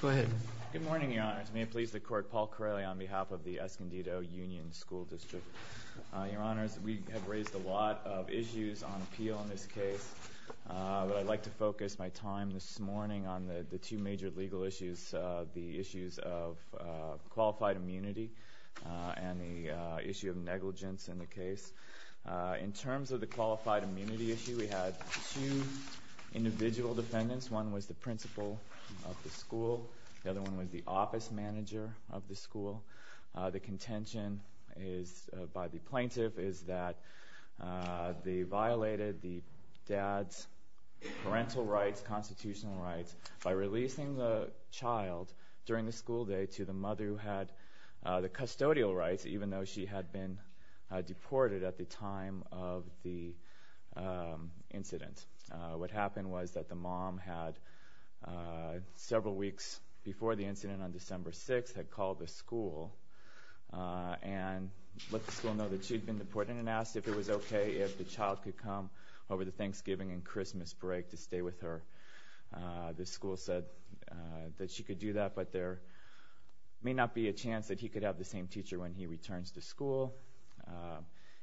Good morning, Your Honors. May it please the Court, Paul Carelli on behalf of the Escondido Union School District. Your Honors, we have raised a lot of issues on appeal in this case, but I'd like to focus my time this morning on the two major legal issues, the issues of qualified immunity and the issue of negligence in the case. In terms of the qualified immunity issue, we had two individual defendants. One was the principal of the school. The other one was the office manager of the school. The contention by the plaintiff is that they violated the dad's parental rights, constitutional rights, by releasing the child during the school day to the mother who had the custodial rights, even though she had been deported at the time of the incident. What happened was that the mom had, several weeks before the incident on December 6th, had called the school and let the school know that she had been deported and asked if it was okay if the child could come over the Thanksgiving and Christmas break to stay with her. The school said that she could do that, but there may not be a chance that he could have the same teacher when he returns to school.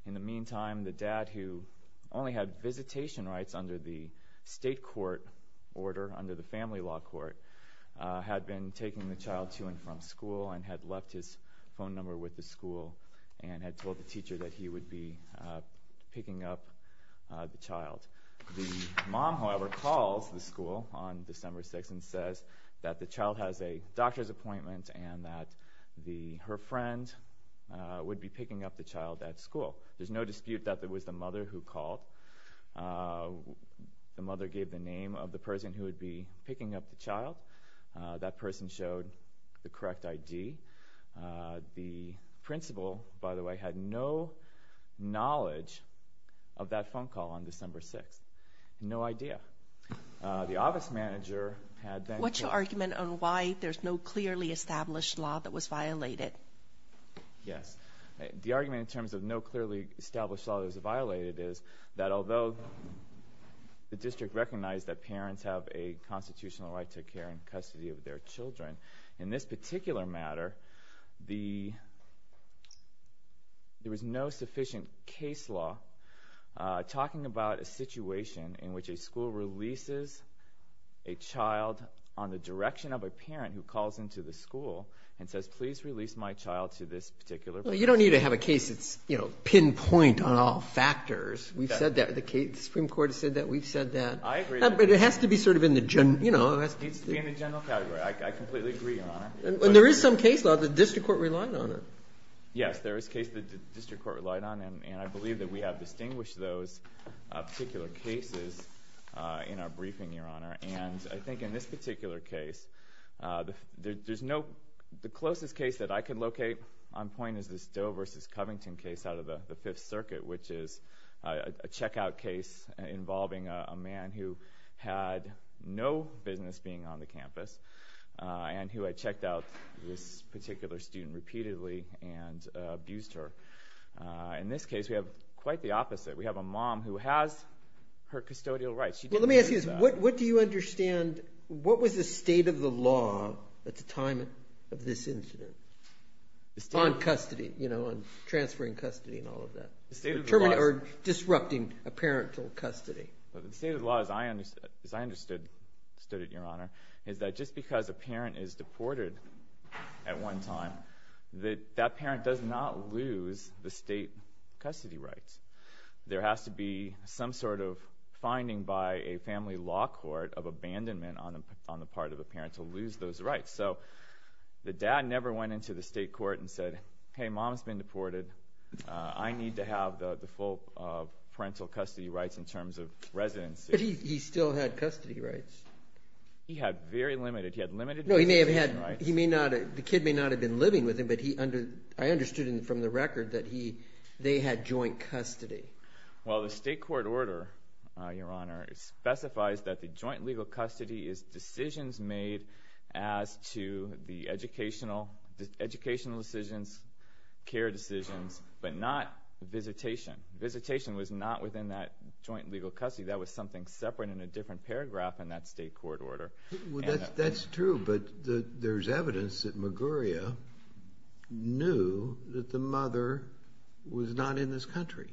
In the meantime, the dad, who only had visitation rights under the state court order, under the family law court, had been taking the child to and from school and had left his phone number with the school and had told the teacher that he would be picking up the child. The mom, however, calls the school on December 6th and says that the child has a doctor's appointment and that her friend would be picking up the child at school. There's no dispute that it was the mother who called. The mother gave the name of the person who would be picking up the child. That person showed the correct ID. The principal, by the way, had no knowledge of that phone call on December 6th. No idea. The office manager had then... What's your argument on why there's no clearly established law that was violated? Yes. The argument in terms of no clearly established law that was violated is that although the district recognized that parents have a constitutional right to care and custody of their children, in this particular matter, there was no sufficient case law talking about a situation in which a school releases a child on the direction of a parent who calls into the school and says, please release my child to this particular person. You don't need to have a case that's pinpoint on all factors. We've said that. The Supreme Court has said that. We've said that. I agree. But it has to be sort of in the general... It needs to be in the general category. I completely agree, Your Honor. There is some case law. The district court relied on it. Yes. There is a case the district court relied on, and I believe that we have distinguished those particular cases in our briefing, Your Honor. And I think in this particular case, there's no... The closest case that I can locate on point is this Doe versus Covington case out of the Fifth Circuit, which is a checkout case involving a man who had no business being on the campus and who had checked out this particular student repeatedly and abused her. In this case, we have quite the opposite. We have a mom who has her custodial rights. Let me ask you this. What do you understand... What was the state of the law at the time of this incident on custody, you know, on transferring custody and all of that? The state of the law... Or disrupting a parent to custody. The state of the law, as I understood it, Your Honor, is that just because a parent is deported at one time, that that parent does not lose the state custody rights. There has to be some sort of finding by a family law court of abandonment on the part of the parent to lose those rights. So the dad never went into the state court and said, hey, mom's been deported. I need to have the full parental custody rights in terms of residency. But he still had custody rights. He had very limited... He had limited... No, he may have had... He may not... The kid may not have been living with him, but I understood from the record that they had joint custody. Well, the state court order, Your Honor, specifies that the joint legal custody is decisions made as to the educational decisions, care decisions, but not visitation. Visitation was not within that joint legal custody. That was something separate in a different paragraph in that state court order. That's true, but there's evidence that Maguria knew that the mother was not in this country.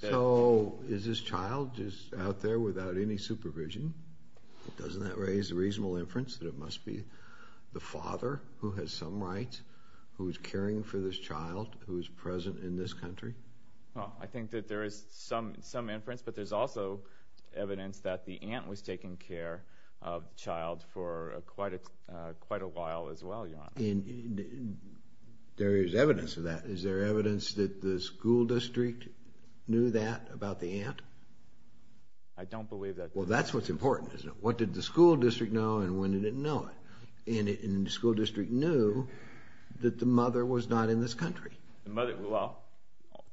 So is this child just out there without any supervision? Doesn't that raise a reasonable inference that it must be the father who has some rights, who's caring for this child, who's present in this country? Well, I think that there is some inference, but there's also evidence that the aunt was taking care of the child for quite a while as well, Your Honor. And there is evidence of that. Is there evidence that the school district knew that about the aunt? I don't believe that... Well, that's what's important, isn't it? What did the school district know, and when did it know it? And the school district knew that the mother was not in this country. Well,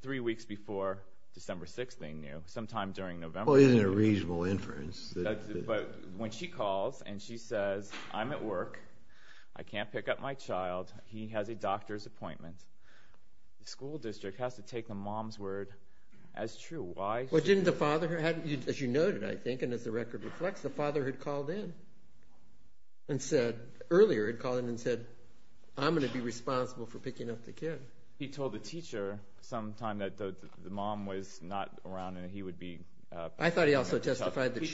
three weeks before December 6th they knew, sometime during November. Well, isn't it a reasonable inference? But when she calls and she says, I'm at work, I can't pick up my child, he has a doctor's appointment, the school district has to take the mom's word as true. Well, didn't the father, as you noted, I think, and as the record reflects, the father had called in and said, earlier had called in and said, I'm going to be responsible for picking up the kid. He told the teacher sometime that the mom was not around and he would be... I thought he also testified that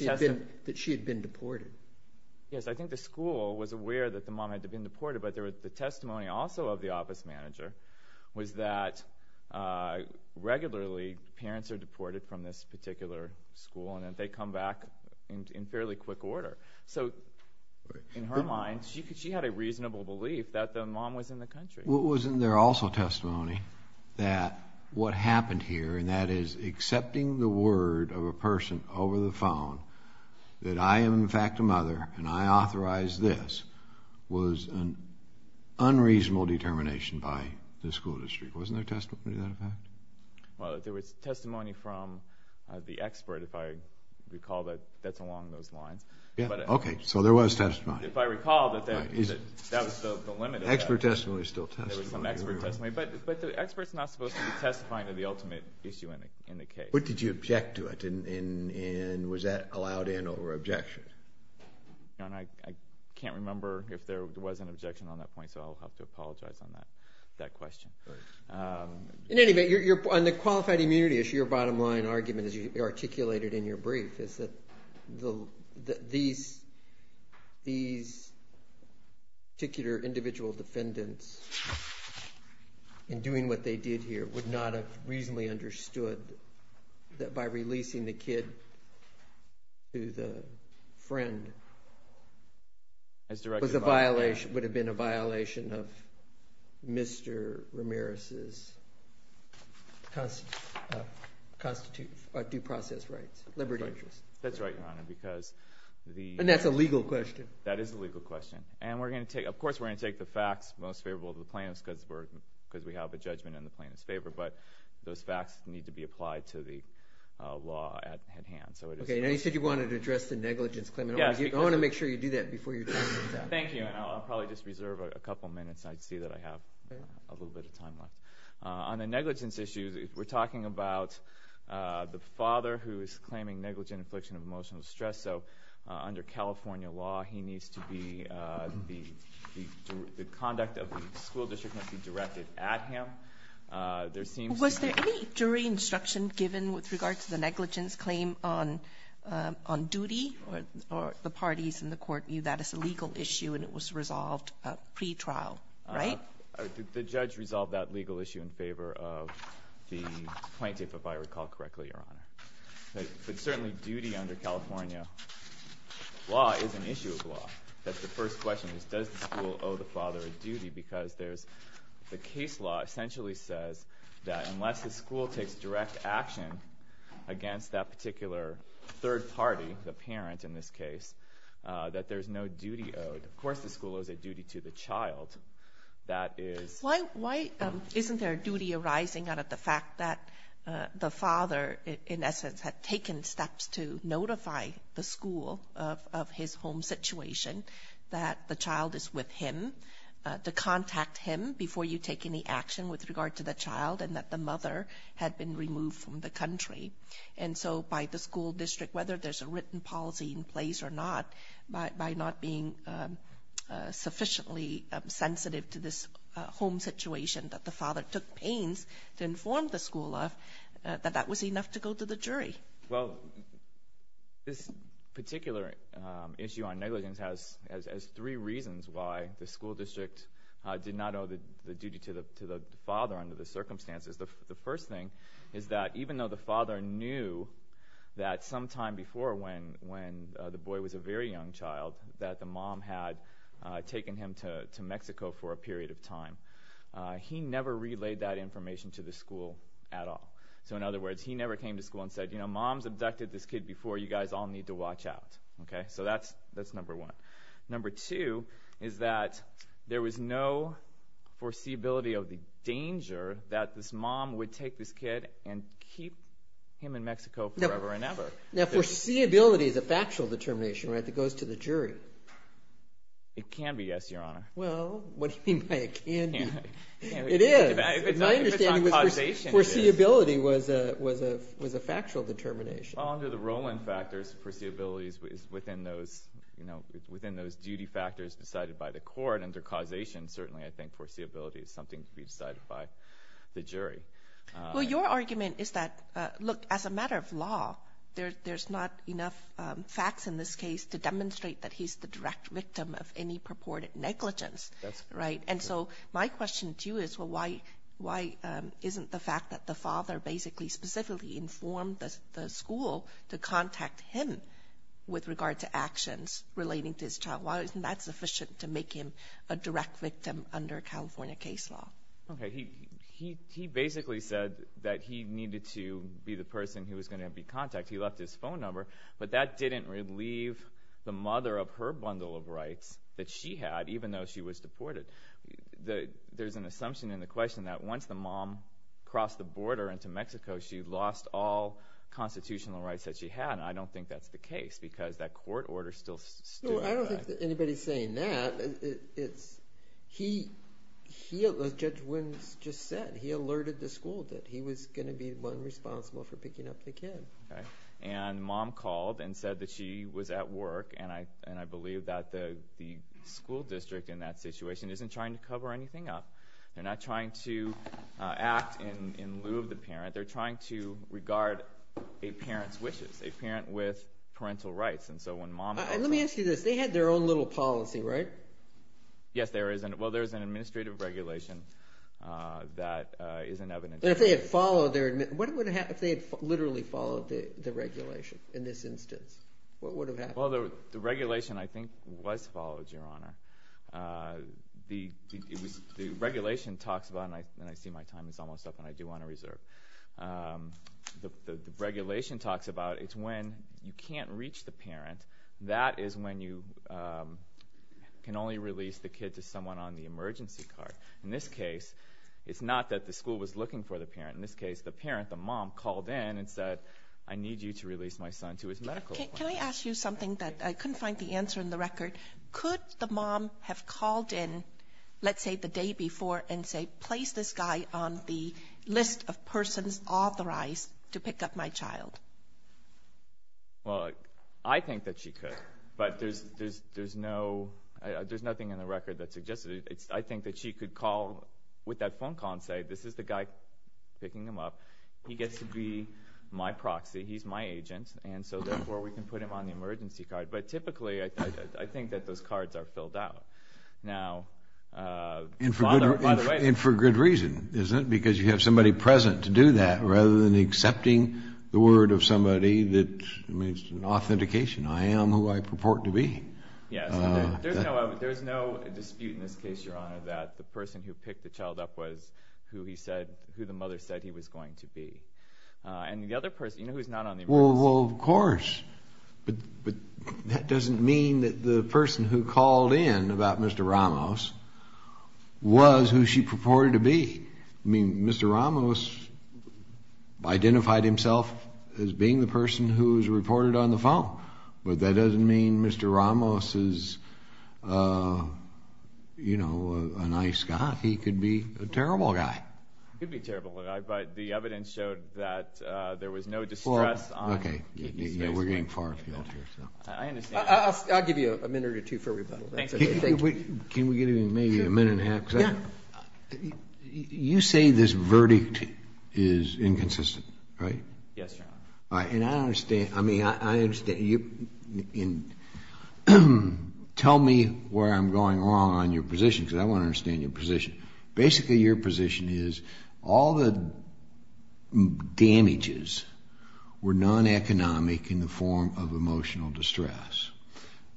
she had been deported. Yes, I think the school was aware that the mom had been deported, but the testimony also of the office manager was that regularly parents are deported from this particular school and that they come back in fairly quick order. So, in her mind, she had a reasonable belief that the mom was in the country. Wasn't there also testimony that what happened here, and that is accepting the word of a person over the phone, that I am in fact a mother and I authorized this, was an unreasonable determination by the school district. Wasn't there testimony to that effect? Well, there was testimony from the expert, if I recall, that's along those lines. Okay, so there was testimony. If I recall, that was the limit of that. Expert testimony is still testimony. There was some expert testimony, but the expert is not supposed to be testifying to the ultimate issue in the case. What did you object to? And was that allowed in or objection? I can't remember if there was an objection on that point, so I'll have to apologize on that question. In any event, on the qualified immunity issue, your bottom line argument, as you articulated in your brief, is that these particular individual defendants, in doing what they did here, would not have reasonably understood that by releasing the kid to the friend, would have been a violation of Mr. Ramirez's due process rights, liberty interests. That's right, Your Honor, because the— And that's a legal question. That is a legal question. And, of course, we're going to take the facts most favorable of the plaintiffs because we have a judgment in the plaintiff's favor, but those facts need to be applied to the law at hand. Okay, now you said you wanted to address the negligence claim. I want to make sure you do that before your time runs out. Thank you, and I'll probably just reserve a couple minutes. I see that I have a little bit of time left. On the negligence issue, we're talking about the father who is claiming negligent infliction of emotional stress, so under California law he needs to be— the conduct of the school district must be directed at him. Was there any jury instruction given with regard to the negligence claim on duty or the parties in the court view that as a legal issue and it was resolved pre-trial, right? The judge resolved that legal issue in favor of the plaintiff, if I recall correctly, Your Honor. But certainly duty under California law is an issue of law. That's the first question is does the school owe the father a duty because there's the case law essentially says that unless the school takes direct action against that particular third party, the parent in this case, that there's no duty owed. Of course the school owes a duty to the child. Isn't there a duty arising out of the fact that the father, in essence, had taken steps to notify the school of his home situation that the child is with him, to contact him before you take any action with regard to the child, and that the mother had been removed from the country. And so by the school district, whether there's a written policy in place or not, by not being sufficiently sensitive to this home situation that the father took pains to inform the school of, that that was enough to go to the jury. Well, this particular issue on negligence has three reasons why the school district did not owe the duty to the father under the circumstances. The first thing is that even though the father knew that sometime before when the boy was a very young child that the mom had taken him to Mexico for a period of time, he never relayed that information to the school at all. So in other words, he never came to school and said, you know, mom's abducted this kid before, you guys all need to watch out. So that's number one. Number two is that there was no foreseeability of the danger that this mom would take this kid and keep him in Mexico forever and ever. Now, foreseeability is a factual determination that goes to the jury. It can be, yes, Your Honor. Well, what do you mean by it can be? It is. If it's on causation, it is. My understanding was foreseeability was a factual determination. Well, under the Rowland factors, foreseeability is within those duty factors decided by the court. Under causation, certainly, I think foreseeability is something to be decided by the jury. Well, your argument is that, look, as a matter of law, there's not enough facts in this case to demonstrate that he's the direct victim of any purported negligence, right? And so my question to you is, well, why isn't the fact that the father basically specifically informed the school to contact him with regard to actions relating to his child, why isn't that sufficient to make him a direct victim under California case law? Okay, he basically said that he needed to be the person who was going to be contacted. He left his phone number, but that didn't relieve the mother of her bundle of rights that she had, and there's an assumption in the question that once the mom crossed the border into Mexico, she lost all constitutional rights that she had, and I don't think that's the case because that court order still stood. No, I don't think anybody's saying that. It's he, as Judge Wynn just said, he alerted the school that he was going to be the one responsible for picking up the kid. Okay, and mom called and said that she was at work, and I believe that the school district in that situation isn't trying to cover anything up. They're not trying to act in lieu of the parent. They're trying to regard a parent's wishes, a parent with parental rights. And so when mom— Let me ask you this. They had their own little policy, right? Yes, there is. Well, there is an administrative regulation that is an evidence. And if they had followed their—what would have happened if they had literally followed the regulation in this instance? What would have happened? Well, the regulation, I think, was followed, Your Honor. The regulation talks about—and I see my time is almost up, and I do want to reserve. The regulation talks about it's when you can't reach the parent. That is when you can only release the kid to someone on the emergency card. In this case, it's not that the school was looking for the parent. In this case, the parent, the mom, called in and said, I need you to release my son to his medical appointment. Can I ask you something that I couldn't find the answer in the record? Could the mom have called in, let's say the day before, and say, place this guy on the list of persons authorized to pick up my child? Well, I think that she could, but there's nothing in the record that suggests it. I think that she could call with that phone call and say, this is the guy picking him up. He gets to be my proxy. He's my agent, and so, therefore, we can put him on the emergency card. But typically, I think that those cards are filled out. Now, father, by the way— And for good reason, isn't it? Because you have somebody present to do that rather than accepting the word of somebody that, I mean, it's an authentication. I am who I purport to be. Yes. There's no dispute in this case, Your Honor, that the person who picked the child up was who he said, who the mother said he was going to be. And the other person, you know, who's not on the emergency— Well, of course. But that doesn't mean that the person who called in about Mr. Ramos was who she purported to be. I mean, Mr. Ramos identified himself as being the person who was reported on the phone. But that doesn't mean Mr. Ramos is, you know, a nice guy. He could be a terrible guy. He could be a terrible guy, but the evidence showed that there was no distress on— Well, okay. We're getting far afield here. I understand. I'll give you a minute or two for rebuttal. Thank you. Can we give him maybe a minute and a half? Sure. Yeah. You say this verdict is inconsistent, right? Yes, Your Honor. All right. And I understand. I mean, I understand. Tell me where I'm going wrong on your position because I want to understand your position. Basically, your position is all the damages were non-economic in the form of emotional distress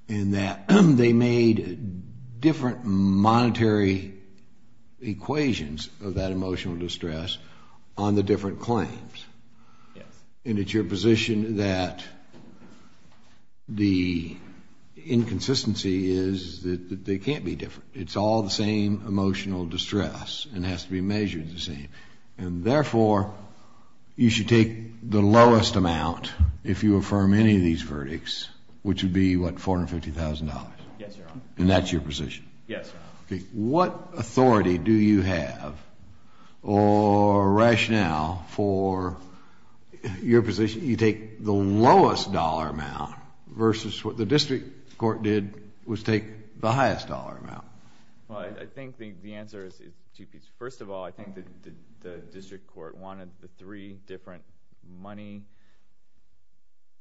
and that they made different monetary equations of that emotional distress on the different claims. Yes. And it's your position that the inconsistency is that they can't be different. It's all the same emotional distress and has to be measured the same. And therefore, you should take the lowest amount if you affirm any of these verdicts, which would be, what, $450,000? Yes, Your Honor. And that's your position? Yes, Your Honor. Okay. What authority do you have or rationale for your position? You take the lowest dollar amount versus what the district court did was take the highest dollar amount. Well, I think the answer is two pieces. First of all, I think the district court wanted the three different money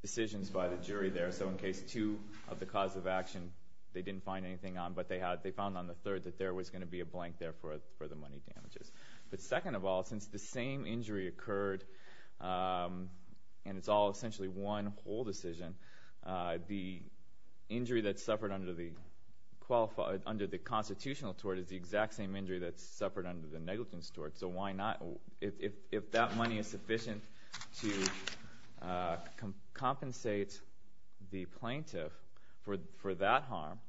decisions by the jury there. So in case two of the cause of action they didn't find anything on, but they found on the third that there was going to be a blank there for the money damages. But second of all, since the same injury occurred and it's all essentially one whole decision, the injury that's suffered under the constitutional tort is the exact same injury that's suffered under the negligence tort. So why not? If that money is sufficient to compensate the plaintiff for that harm,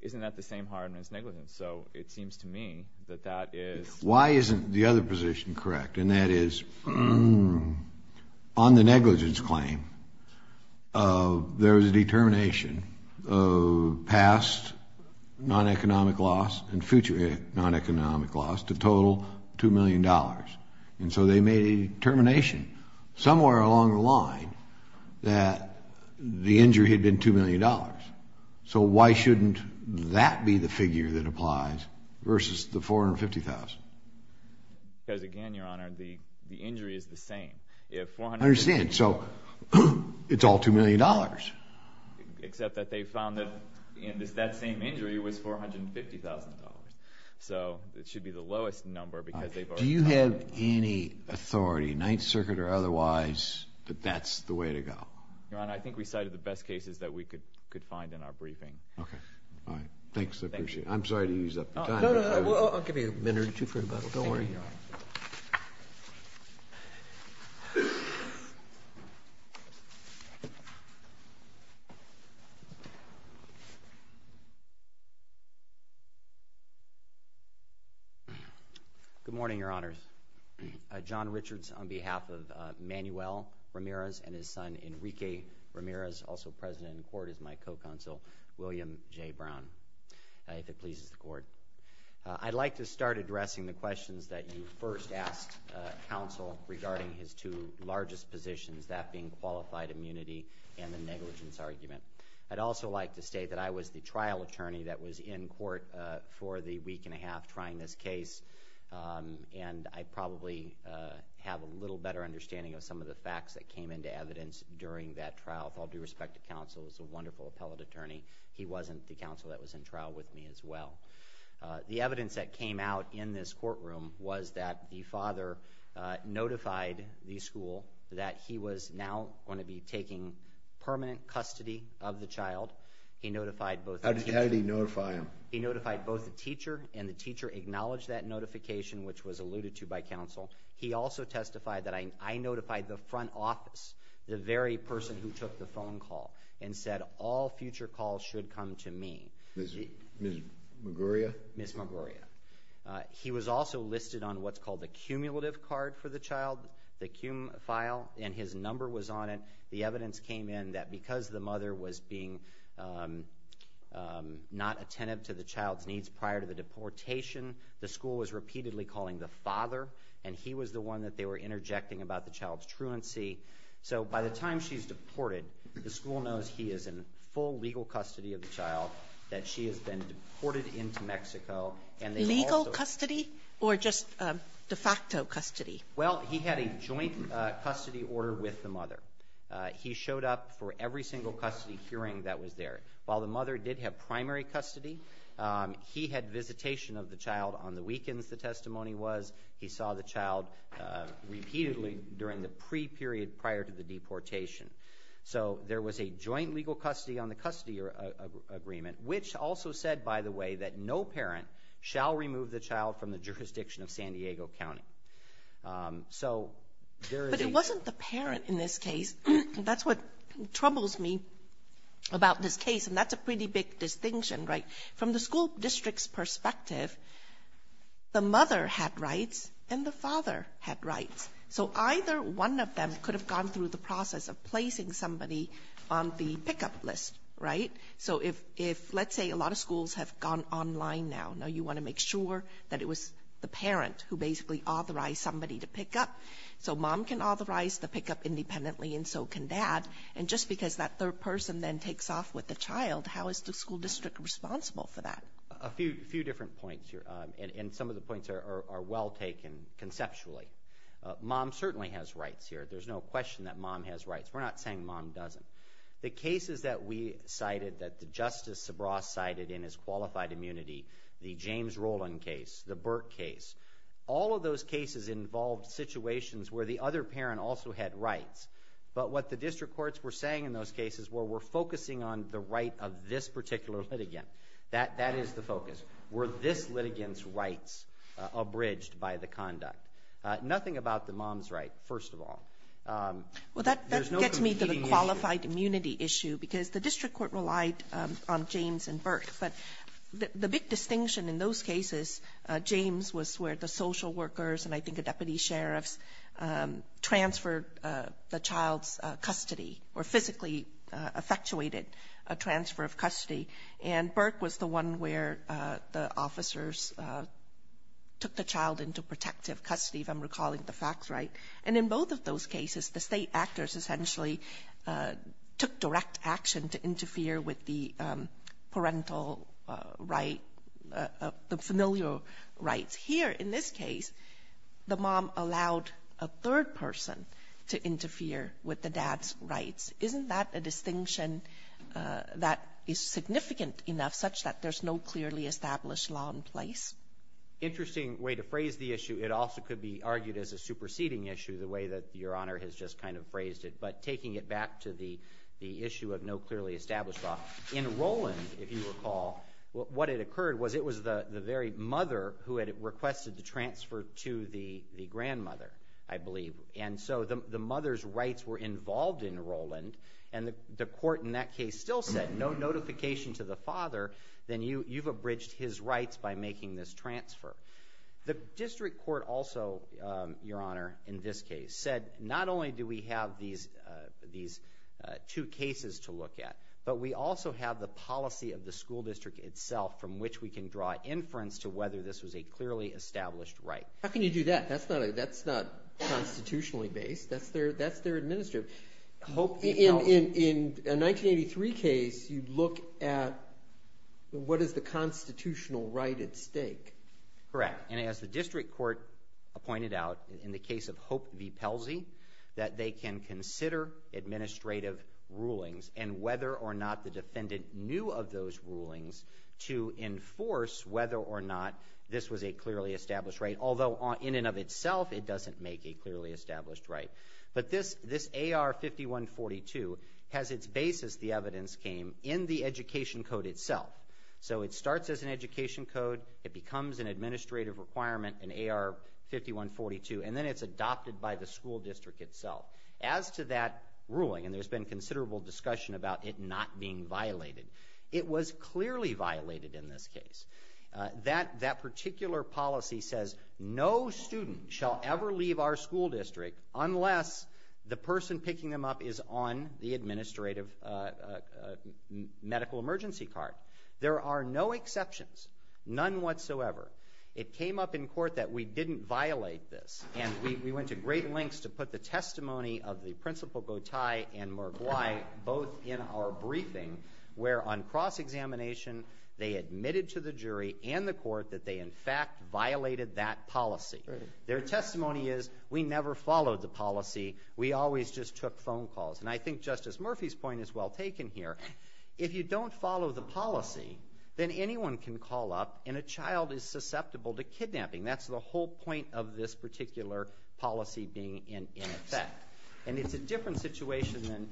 isn't that the same harm as negligence? So it seems to me that that is. Why isn't the other position correct? And that is on the negligence claim there was a determination of past non-economic loss and future non-economic loss to total $2 million. And so they made a determination somewhere along the line that the injury had been $2 million. So why shouldn't that be the figure that applies versus the $450,000? Because, again, Your Honor, the injury is the same. I understand. So it's all $2 million. Except that they found that that same injury was $450,000. So it should be the lowest number because they've already found it. Do you have any authority, Ninth Circuit or otherwise, that that's the way to go? Your Honor, I think we cited the best cases that we could find in our briefing. Okay. Thanks. I appreciate it. I'm sorry to use up your time. No, no. I'll give you a minute or two for rebuttal. Don't worry, Your Honor. Good morning, Your Honors. John Richards on behalf of Manuel Ramirez and his son Enrique Ramirez, also present in court as my co-counsel, William J. Brown, if it pleases the Court. I'd like to start addressing the questions that you first asked counsel regarding his two largest positions, that being qualified immunity and the negligence argument. I'd also like to state that I was the trial attorney that was in court for the week and a half trying this case, and I probably have a little better understanding of some of the facts that came into evidence during that trial. With all due respect to counsel, he was a wonderful appellate attorney. He wasn't the counsel that was in trial with me as well. The evidence that came out in this courtroom was that the father notified the school that he was now going to be taking permanent custody of the child. How did he notify him? He notified both the teacher, and the teacher acknowledged that notification, which was alluded to by counsel. He also testified that I notified the front office, the very person who took the phone call, and said all future calls should come to me. Ms. Maguria? Ms. Maguria. He was also listed on what's called the cumulative card for the child, the CUME file, and his number was on it. The evidence came in that because the mother was being not attentive to the child's needs prior to the deportation, the school was repeatedly calling the father, and he was the one that they were interjecting about the child's truancy. So by the time she's deported, the school knows he is in full legal custody of the child, that she has been deported into Mexico. Legal custody or just de facto custody? Well, he had a joint custody order with the mother. He showed up for every single custody hearing that was there. While the mother did have primary custody, he had visitation of the child on the weekends, the testimony was. He saw the child repeatedly during the pre-period prior to the deportation. So there was a joint legal custody on the custody agreement, which also said, by the way, that no parent shall remove the child from the jurisdiction of San Diego County. But it wasn't the parent in this case. That's what troubles me about this case, and that's a pretty big distinction, right? From the school district's perspective, the mother had rights and the father had rights. So either one of them could have gone through the process of placing somebody on the pickup list, right? So if, let's say, a lot of schools have gone online now, you want to make sure that it was the parent who basically authorized somebody to pick up. So mom can authorize the pickup independently, and so can dad. And just because that third person then takes off with the child, how is the school district responsible for that? A few different points here, and some of the points are well taken conceptually. Mom certainly has rights here. There's no question that mom has rights. We're not saying mom doesn't. The cases that we cited, that Justice Sobros cited in his qualified immunity, the James Rowland case, the Burke case, all of those cases involved situations where the other parent also had rights. But what the district courts were saying in those cases were we're focusing on the right of this particular litigant. That is the focus, were this litigant's rights abridged by the conduct? Nothing about the mom's right, first of all. Well, that gets me to the qualified immunity issue, because the district court relied on James and Burke. But the big distinction in those cases, James was where the social workers and I think the deputy sheriffs transferred the child's custody or physically effectuated a transfer of custody, and Burke was the one where the officers took the child into protective custody, if I'm recalling the facts right. And in both of those cases, the state actors essentially took direct action to interfere with the parental right, the familial rights. Here in this case, the mom allowed a third person to interfere with the dad's rights. Isn't that a distinction that is significant enough such that there's no clearly established law in place? Interesting way to phrase the issue. It also could be argued as a superseding issue, the way that Your Honor has just kind of phrased it. But taking it back to the issue of no clearly established law, in Roland, if you recall, what had occurred was it was the very mother who had requested the transfer to the grandmother, I believe. And so the mother's rights were involved in Roland, and the court in that case still said no notification to the father, then you've abridged his rights by making this transfer. The district court also, Your Honor, in this case, said not only do we have these two cases to look at, but we also have the policy of the school district itself from which we can draw inference to whether this was a clearly established right. How can you do that? That's not constitutionally based. That's their administrative. In a 1983 case, you look at what is the constitutional right at stake. Correct. And as the district court pointed out, in the case of Hope v. Pelzey, that they can consider administrative rulings and whether or not the defendant knew of those rulings to enforce whether or not this was a clearly established right, although in and of itself it doesn't make a clearly established right. But this AR 5142 has its basis, the evidence came, in the education code itself. So it starts as an education code, it becomes an administrative requirement in AR 5142, and then it's adopted by the school district itself. As to that ruling, and there's been considerable discussion about it not being violated, it was clearly violated in this case. That particular policy says no student shall ever leave our school district unless the person picking them up is on the administrative medical emergency card. There are no exceptions, none whatsoever. It came up in court that we didn't violate this, and we went to great lengths to put the testimony of the Principal Gotay and Murgwai both in our briefing, where on cross-examination they admitted to the jury and the court that they in fact violated that policy. Their testimony is, we never followed the policy, we always just took phone calls. And I think Justice Murphy's point is well taken here. If you don't follow the policy, then anyone can call up and a child is susceptible to kidnapping. That's the whole point of this particular policy being in effect. And it's a different situation than,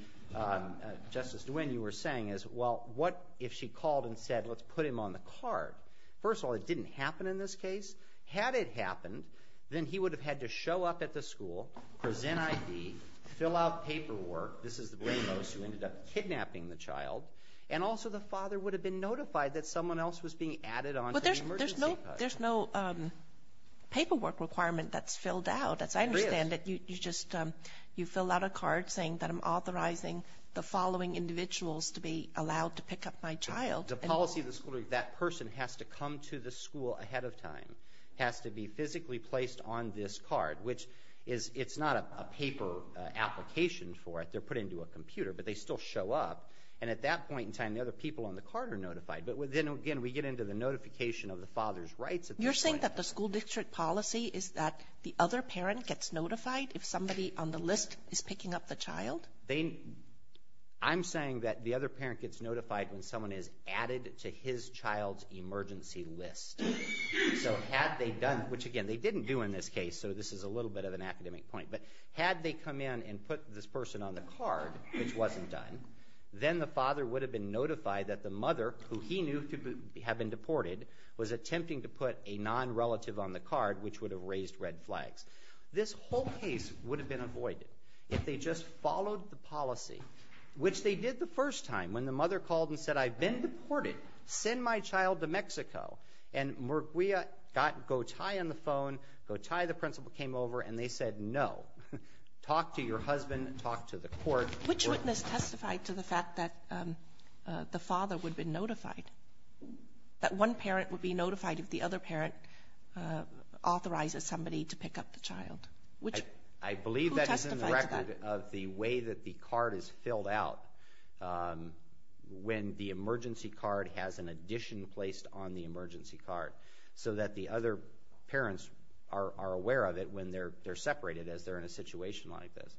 Justice DeWine, you were saying is, well, what if she called and said let's put him on the card? First of all, it didn't happen in this case. Had it happened, then he would have had to show up at the school, present ID, fill out paperwork. This is the brain most who ended up kidnapping the child. And also the father would have been notified that someone else was being added on to the emergency card. There's no paperwork requirement that's filled out. As I understand it, you just fill out a card saying that I'm authorizing the following individuals to be allowed to pick up my child. The policy of the school is that person has to come to the school ahead of time, has to be physically placed on this card, which it's not a paper application for it. They're put into a computer, but they still show up. And at that point in time, the other people on the card are notified. But then, again, we get into the notification of the father's rights at this point. So you're saying that the school district policy is that the other parent gets notified if somebody on the list is picking up the child? I'm saying that the other parent gets notified when someone is added to his child's emergency list. So had they done, which, again, they didn't do in this case, so this is a little bit of an academic point. But had they come in and put this person on the card, which wasn't done, then the father would have been notified that the mother, who he knew had been deported, was attempting to put a nonrelative on the card, which would have raised red flags. This whole case would have been avoided if they just followed the policy, which they did the first time, when the mother called and said, I've been deported. Send my child to Mexico. And Murguia got Gotay on the phone. Gotay, the principal, came over, and they said, no, talk to your husband, talk to the court. Which witness testified to the fact that the father would have been notified, that one parent would be notified if the other parent authorizes somebody to pick up the child? Who testified to that? I believe that is in the record of the way that the card is filled out when the emergency card has an addition placed on the emergency card so that the other parents are aware of it when they're separated as they're in a situation like this.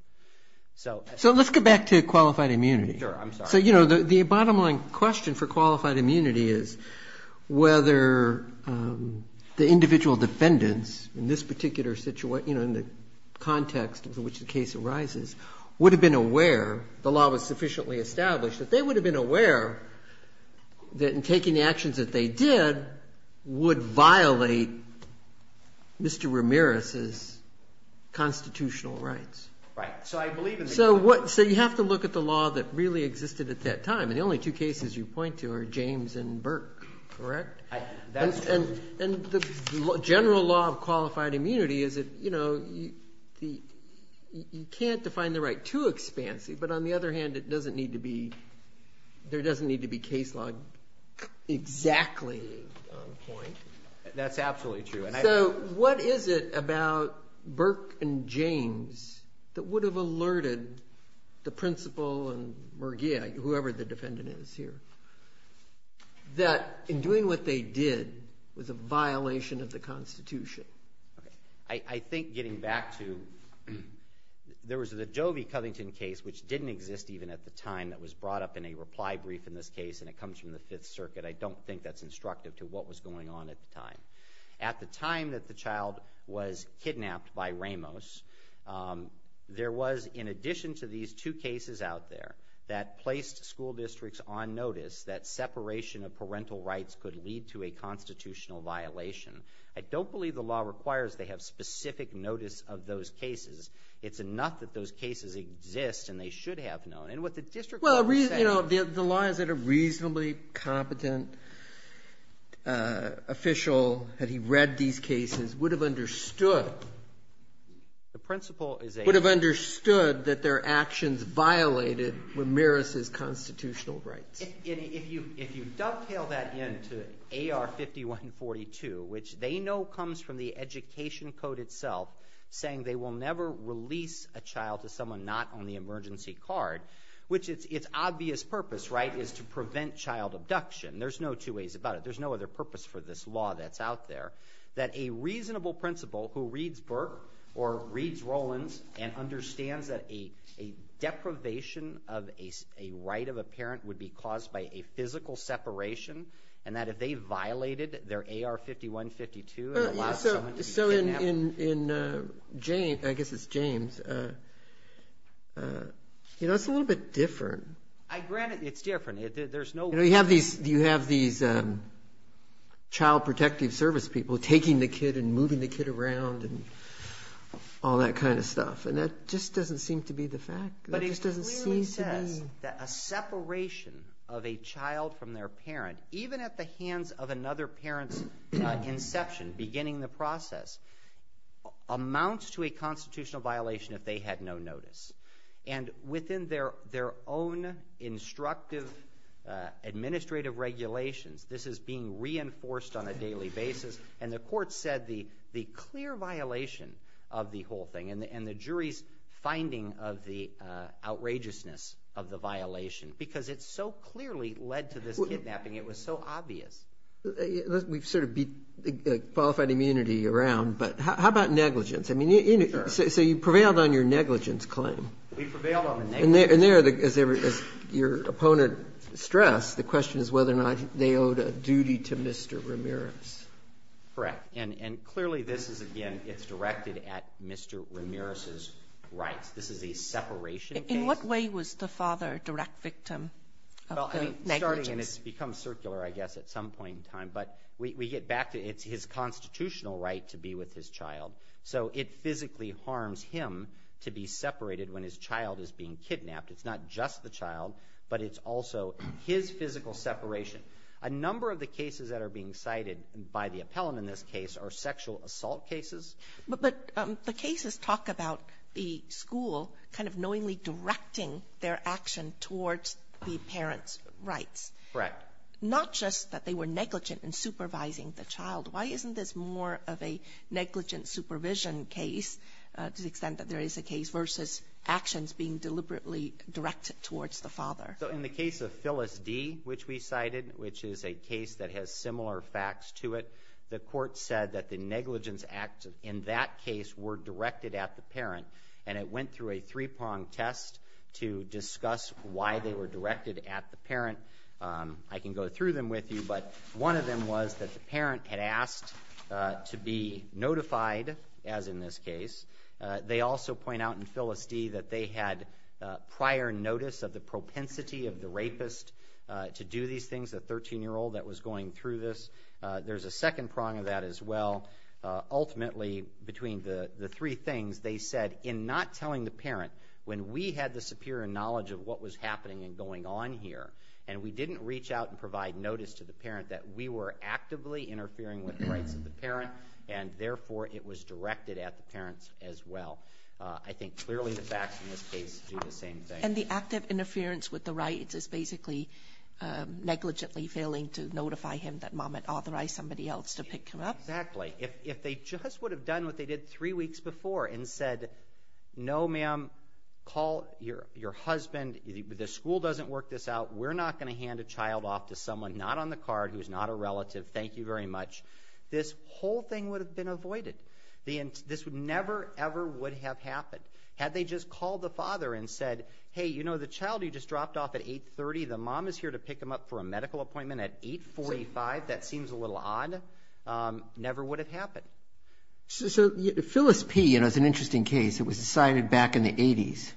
So let's go back to qualified immunity. Sure. I'm sorry. So, you know, the bottom line question for qualified immunity is whether the individual defendants in this particular situation, you know, in the context in which the case arises, would have been aware, the law was sufficiently established, that they would have been aware that in taking the actions that they did would violate Mr. Ramirez's constitutional rights. Right. So you have to look at the law that really existed at that time, and the only two cases you point to are James and Burke, correct? That's true. And the general law of qualified immunity is that, you know, you can't define the right too expansively, but on the other hand, it doesn't need to be, there doesn't need to be case law exactly on point. That's absolutely true. So what is it about Burke and James that would have alerted the principal and Murgia, whoever the defendant is here, that in doing what they did was a violation of the Constitution? I think getting back to, there was the Joby-Covington case, which didn't exist even at the time, that was brought up in a reply brief in this case, and it comes from the Fifth Circuit. I don't think that's instructive to what was going on at the time. At the time that the child was kidnapped by Ramos, there was, in addition to these two cases out there, that placed school districts on notice that separation of parental rights could lead to a constitutional violation. I don't believe the law requires they have specific notice of those cases. It's enough that those cases exist, and they should have known. The law is that a reasonably competent official, had he read these cases, would have understood that their actions violated Ramirez's constitutional rights. If you dovetail that in to AR 5142, which they know comes from the Education Code itself, saying they will never release a child to someone not on the emergency card, which its obvious purpose, right, is to prevent child abduction. There's no two ways about it. There's no other purpose for this law that's out there. That a reasonable principal who reads Burke or reads Rollins and understands that a deprivation of a right of a parent would be caused by a physical separation, and that if they violated their AR 5152 and allowed someone to be kidnapped… So in James, I guess it's James, you know, it's a little bit different. Granted, it's different. You know, you have these child protective service people taking the kid and moving the kid around and all that kind of stuff, and that just doesn't seem to be the fact. But it clearly says that a separation of a child from their parent, even at the hands of another parent's inception, beginning the process, amounts to a constitutional violation if they had no notice. And within their own instructive administrative regulations, this is being reinforced on a daily basis, and the court said the clear violation of the whole thing and the jury's finding of the outrageousness of the violation, because it so clearly led to this kidnapping, it was so obvious. We've sort of beat qualified immunity around, but how about negligence? I mean, so you prevailed on your negligence claim. We prevailed on the negligence. And there, as your opponent stressed, the question is whether or not they owed a duty to Mr. Ramirez. Correct. And clearly this is, again, it's directed at Mr. Ramirez's rights. This is a separation case. In what way was the father a direct victim of the negligence? Well, I mean, starting, and it's become circular, I guess, at some point in time. But we get back to it's his constitutional right to be with his child. So it physically harms him to be separated when his child is being kidnapped. It's not just the child, but it's also his physical separation. A number of the cases that are being cited by the appellant in this case are sexual assault cases. But the cases talk about the school kind of knowingly directing their action towards the parent's rights. Correct. Not just that they were negligent in supervising the child. Why isn't this more of a negligent supervision case, to the extent that there is a case, versus actions being deliberately directed towards the father? So in the case of Phyllis D., which we cited, which is a case that has similar facts to it, the court said that the negligence acts in that case were directed at the parent, and it went through a three-prong test to discuss why they were directed at the parent. I can go through them with you, but one of them was that the parent had asked to be notified, as in this case. They also point out in Phyllis D. that they had prior notice of the propensity of the rapist to do these things, the 13-year-old that was going through this. There's a second prong of that as well. Ultimately, between the three things, they said in not telling the parent, when we had the superior knowledge of what was happening and going on here, and we didn't reach out and provide notice to the parent that we were actively interfering with the rights of the parent, and therefore it was directed at the parents as well. I think clearly the facts in this case do the same thing. And the act of interference with the rights is basically negligently failing to notify him that Mom had authorized somebody else to pick him up? Exactly. If they just would have done what they did three weeks before and said, no, ma'am, call your husband, the school doesn't work this out, we're not going to hand a child off to someone not on the card who's not a relative, thank you very much, this whole thing would have been avoided. This never, ever would have happened. Had they just called the father and said, hey, you know, the child you just dropped off at 8.30, the mom is here to pick him up for a medical appointment at 8.45, that seems a little odd, never would have happened. So Phyllis P., you know, it's an interesting case. It was decided back in the 80s.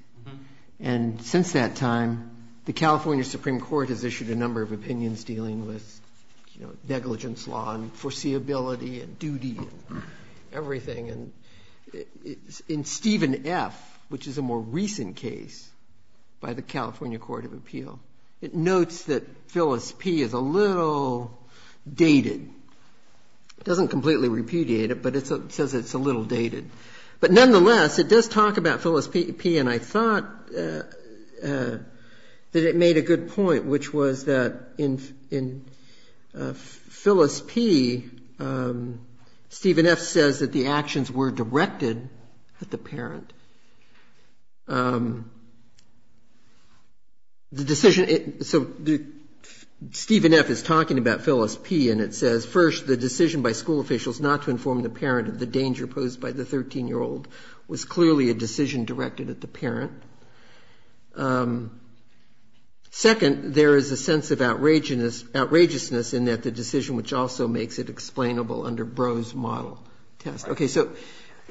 And since that time, the California Supreme Court has issued a number of opinions dealing with, you know, negligence law and foreseeability and duty and everything. And in Stephen F., which is a more recent case by the California Court of Appeal, it notes that Phyllis P. is a little dated. It doesn't completely repudiate it, but it says it's a little dated. But nonetheless, it does talk about Phyllis P., and I thought that it made a good point, which was that in Phyllis P., Stephen F. says that the actions were directed at the parent. So Stephen F. is talking about Phyllis P., and it says, first, the decision by school officials not to inform the parent of the danger posed by the 13-year-old was clearly a decision directed at the parent. Second, there is a sense of outrageousness in that the decision, which also makes it explainable under Brough's model test. Okay. So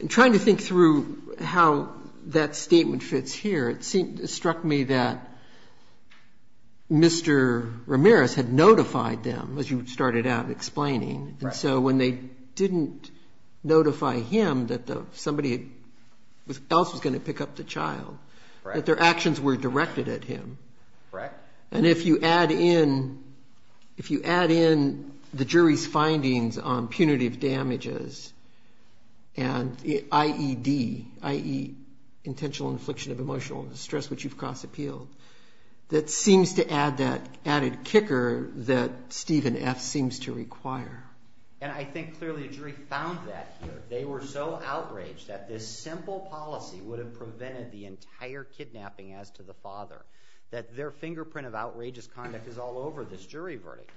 I'm trying to think through how that statement fits here. It struck me that Mr. Ramirez had notified them, as you started out explaining. And so when they didn't notify him that somebody else was going to pick up the child, that their actions were directed at him. Correct. And if you add in the jury's findings on punitive damages and IED, i.e. intentional infliction of emotional distress which you've cross-appealed, that seems to add that added kicker that Stephen F. seems to require. And I think clearly the jury found that here. They were so outraged that this simple policy would have prevented the entire kidnapping as to the father, that their fingerprint of outrageous conduct is all over this jury verdict.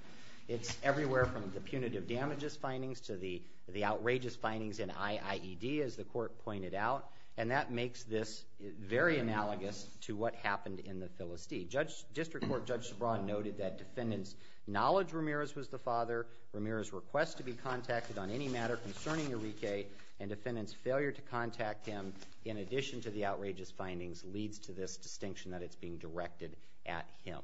It's everywhere from the punitive damages findings to the outrageous findings in IIED, as the court pointed out, and that makes this very analogous to what happened in the Philistine. District Court Judge Sebron noted that defendants' knowledge Ramirez was the father, Ramirez's request to be contacted on any matter concerning Enrique, and defendants' failure to contact him in addition to the outrageous findings leads to this distinction that it's being directed at him.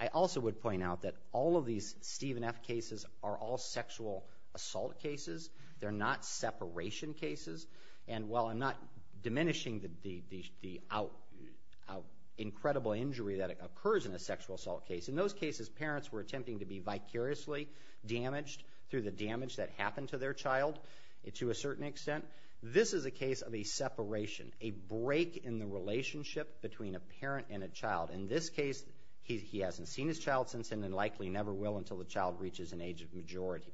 I also would point out that all of these Stephen F. cases are all sexual assault cases. They're not separation cases. And while I'm not diminishing the incredible injury that occurs in a sexual assault case, in those cases parents were attempting to be vicariously damaged through the damage that happened to their child to a certain extent. This is a case of a separation, a break in the relationship between a parent and a child. In this case, he hasn't seen his child since and likely never will until the child reaches an age of majority.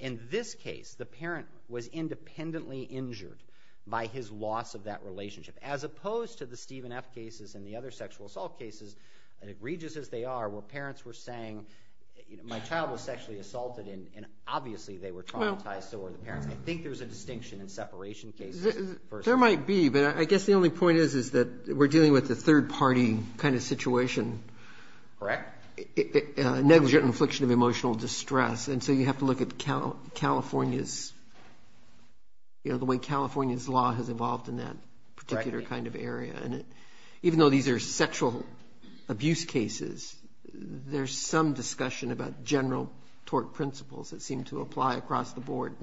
In this case, the parent was independently injured by his loss of that relationship, as opposed to the Stephen F. cases and the other sexual assault cases, and egregious as they are, where parents were saying my child was sexually assaulted and obviously they were traumatized, so were the parents. I think there's a distinction in separation cases. There might be, but I guess the only point is that we're dealing with a third-party kind of situation. Correct. Negligent infliction of emotional distress, and so you have to look at California's, you know, the way California's law has evolved in that particular kind of area. And even though these are sexual abuse cases, there's some discussion about general tort principles that seem to apply across the board.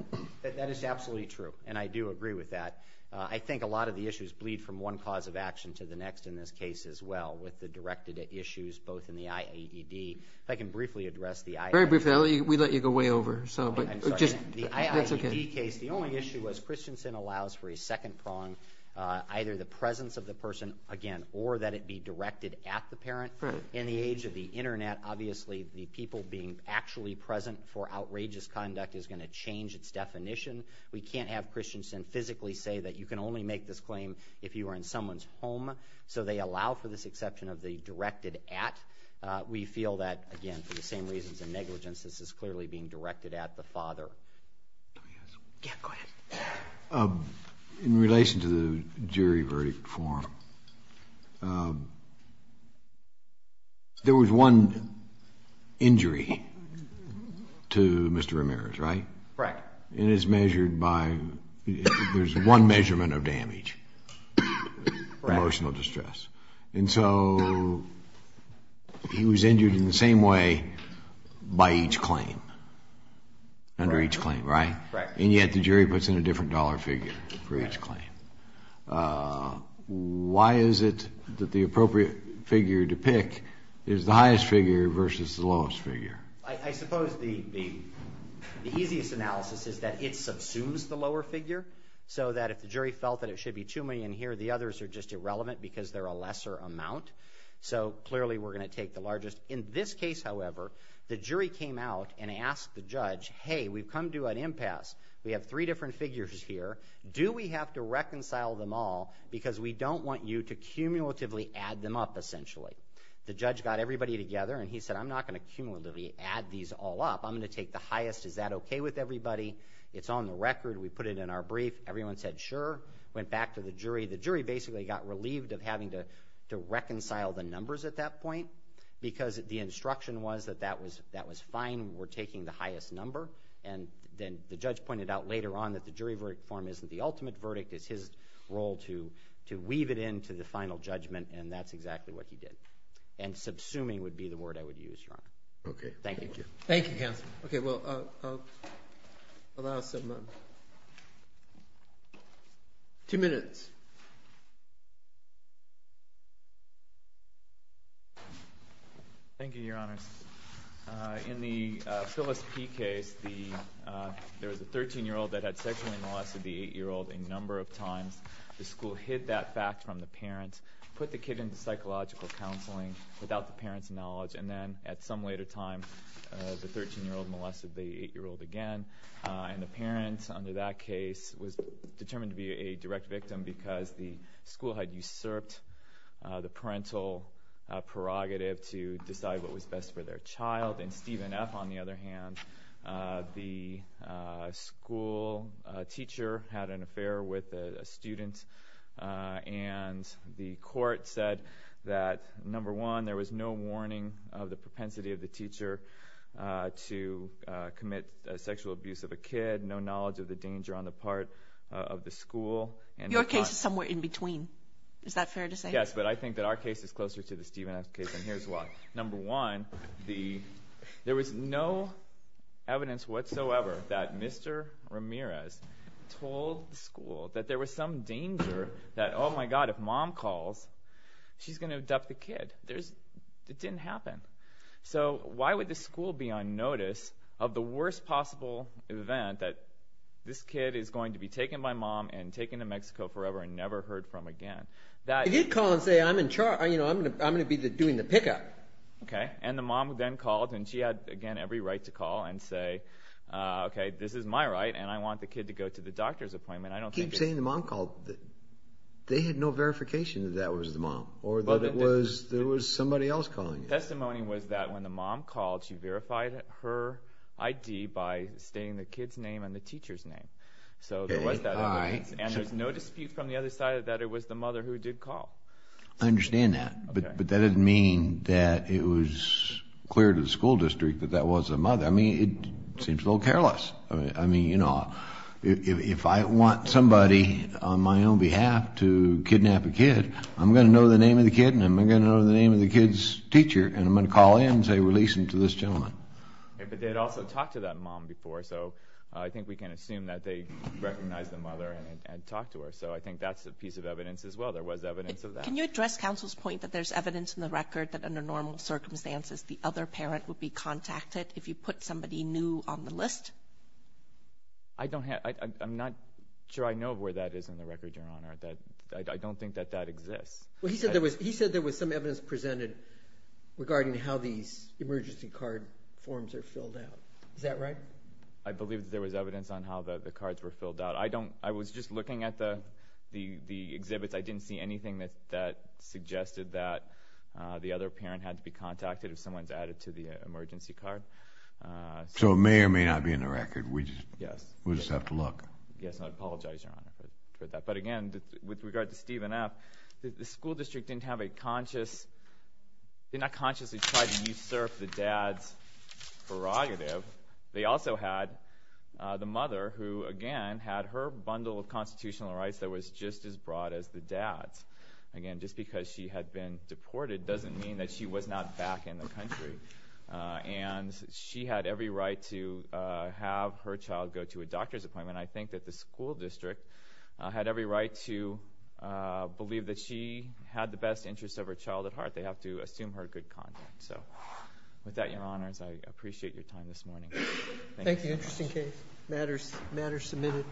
That is absolutely true, and I do agree with that. I think a lot of the issues bleed from one cause of action to the next in this case as well, with the directed issues both in the IAED. If I can briefly address the IAED. Very briefly. We let you go way over. I'm sorry. The IAED case, the only issue was Christensen allows for a second prong, either the presence of the person, again, or that it be directed at the parent. In the age of the Internet, obviously, the people being actually present for outrageous conduct is going to change its definition. We can't have Christensen physically say that you can only make this claim if you are in someone's home, so they allow for this exception of the directed at. We feel that, again, for the same reasons of negligence, this is clearly being directed at the father. Let me ask you. Yeah, go ahead. In relation to the jury verdict form, there was one injury to Mr. Ramirez, right? Correct. And it's measured by, there's one measurement of damage, emotional distress. And so he was injured in the same way by each claim, under each claim, right? Right. And yet the jury puts in a different dollar figure for each claim. Why is it that the appropriate figure to pick is the highest figure versus the lowest figure? I suppose the easiest analysis is that it subsumes the lower figure, so that if the jury felt that it should be too many in here, the others are just irrelevant because they're a lesser amount. So clearly we're going to take the largest. In this case, however, the jury came out and asked the judge, hey, we've come to an impasse. We have three different figures here. Do we have to reconcile them all because we don't want you to cumulatively add them up, essentially? The judge got everybody together and he said, I'm not going to cumulatively add these all up. I'm going to take the highest. Is that okay with everybody? It's on the record. We put it in our brief. Everyone said sure, went back to the jury. The jury basically got relieved of having to reconcile the numbers at that point because the instruction was that that was fine. We're taking the highest number. And then the judge pointed out later on that the jury verdict form isn't the ultimate verdict. It's his role to weave it into the final judgment, and that's exactly what he did. And subsuming would be the word I would use, Your Honor. Okay. Thank you. Thank you, Counsel. Okay, well, I'll allow some time. Two minutes. Thank you, Your Honors. In the Phyllis P. case, there was a 13-year-old that had sexually molested the 8-year-old a number of times. The school hid that fact from the parents, put the kid into psychological counseling without the parents' knowledge, and then at some later time the 13-year-old molested the 8-year-old again. And the parent under that case was determined to be a direct victim because the school had usurped the parental prerogative to decide what was best for their child. In Stephen F., on the other hand, the school teacher had an affair with a student, and the court said that, number one, there was no warning of the propensity of the teacher to commit sexual abuse of a kid, no knowledge of the danger on the part of the school. Your case is somewhere in between. Is that fair to say? Yes, but I think that our case is closer to the Stephen F. case, and here's why. Number one, there was no evidence whatsoever that Mr. Ramirez told the school that there was some danger that, oh, my God, if Mom calls, she's going to abduct the kid. It didn't happen. So why would the school be on notice of the worst possible event, that this kid is going to be taken by Mom and taken to Mexico forever and never heard from again? They did call and say, I'm in charge. I'm going to be doing the pickup. Okay, and the mom then called, and she had, again, every right to call and say, okay, this is my right, and I want the kid to go to the doctor's appointment. You keep saying the mom called. They had no verification that that was the mom or that it was somebody else calling. The testimony was that when the mom called, she verified her I.D. by stating the kid's name and the teacher's name. So there was that evidence, and there's no dispute from the other side that it was the mother who did call. I understand that, but that doesn't mean that it was clear to the school district that that was the mother. I mean, it seems a little careless. I mean, you know, if I want somebody on my own behalf to kidnap a kid, I'm going to know the name of the kid, and I'm going to know the name of the kid's teacher, and I'm going to call in and say, release him to this gentleman. Okay, but they had also talked to that mom before, so I think we can assume that they recognized the mother and talked to her. So I think that's a piece of evidence as well. There was evidence of that. Can you address counsel's point that there's evidence in the record that under normal circumstances the other parent would be contacted if you put somebody new on the list? I don't have – I'm not sure I know where that is in the record, Your Honor. I don't think that that exists. Well, he said there was some evidence presented regarding how these emergency card forms are filled out. Is that right? I believe that there was evidence on how the cards were filled out. I was just looking at the exhibits. I didn't see anything that suggested that the other parent had to be contacted if someone's added to the emergency card. So it may or may not be in the record. We just have to look. Yes, and I apologize, Your Honor, for that. But again, with regard to Stephen F., the school district didn't have a conscious – did not consciously try to usurp the dad's prerogative. They also had the mother who, again, had her bundle of constitutional rights that was just as broad as the dad's. Again, just because she had been deported doesn't mean that she was not back in the country. And she had every right to have her child go to a doctor's appointment. I think that the school district had every right to believe that she had the best interest of her child at heart. They have to assume her good conduct. So with that, Your Honors, I appreciate your time this morning. Thank you. Thank you. Interesting case. Matters submitted.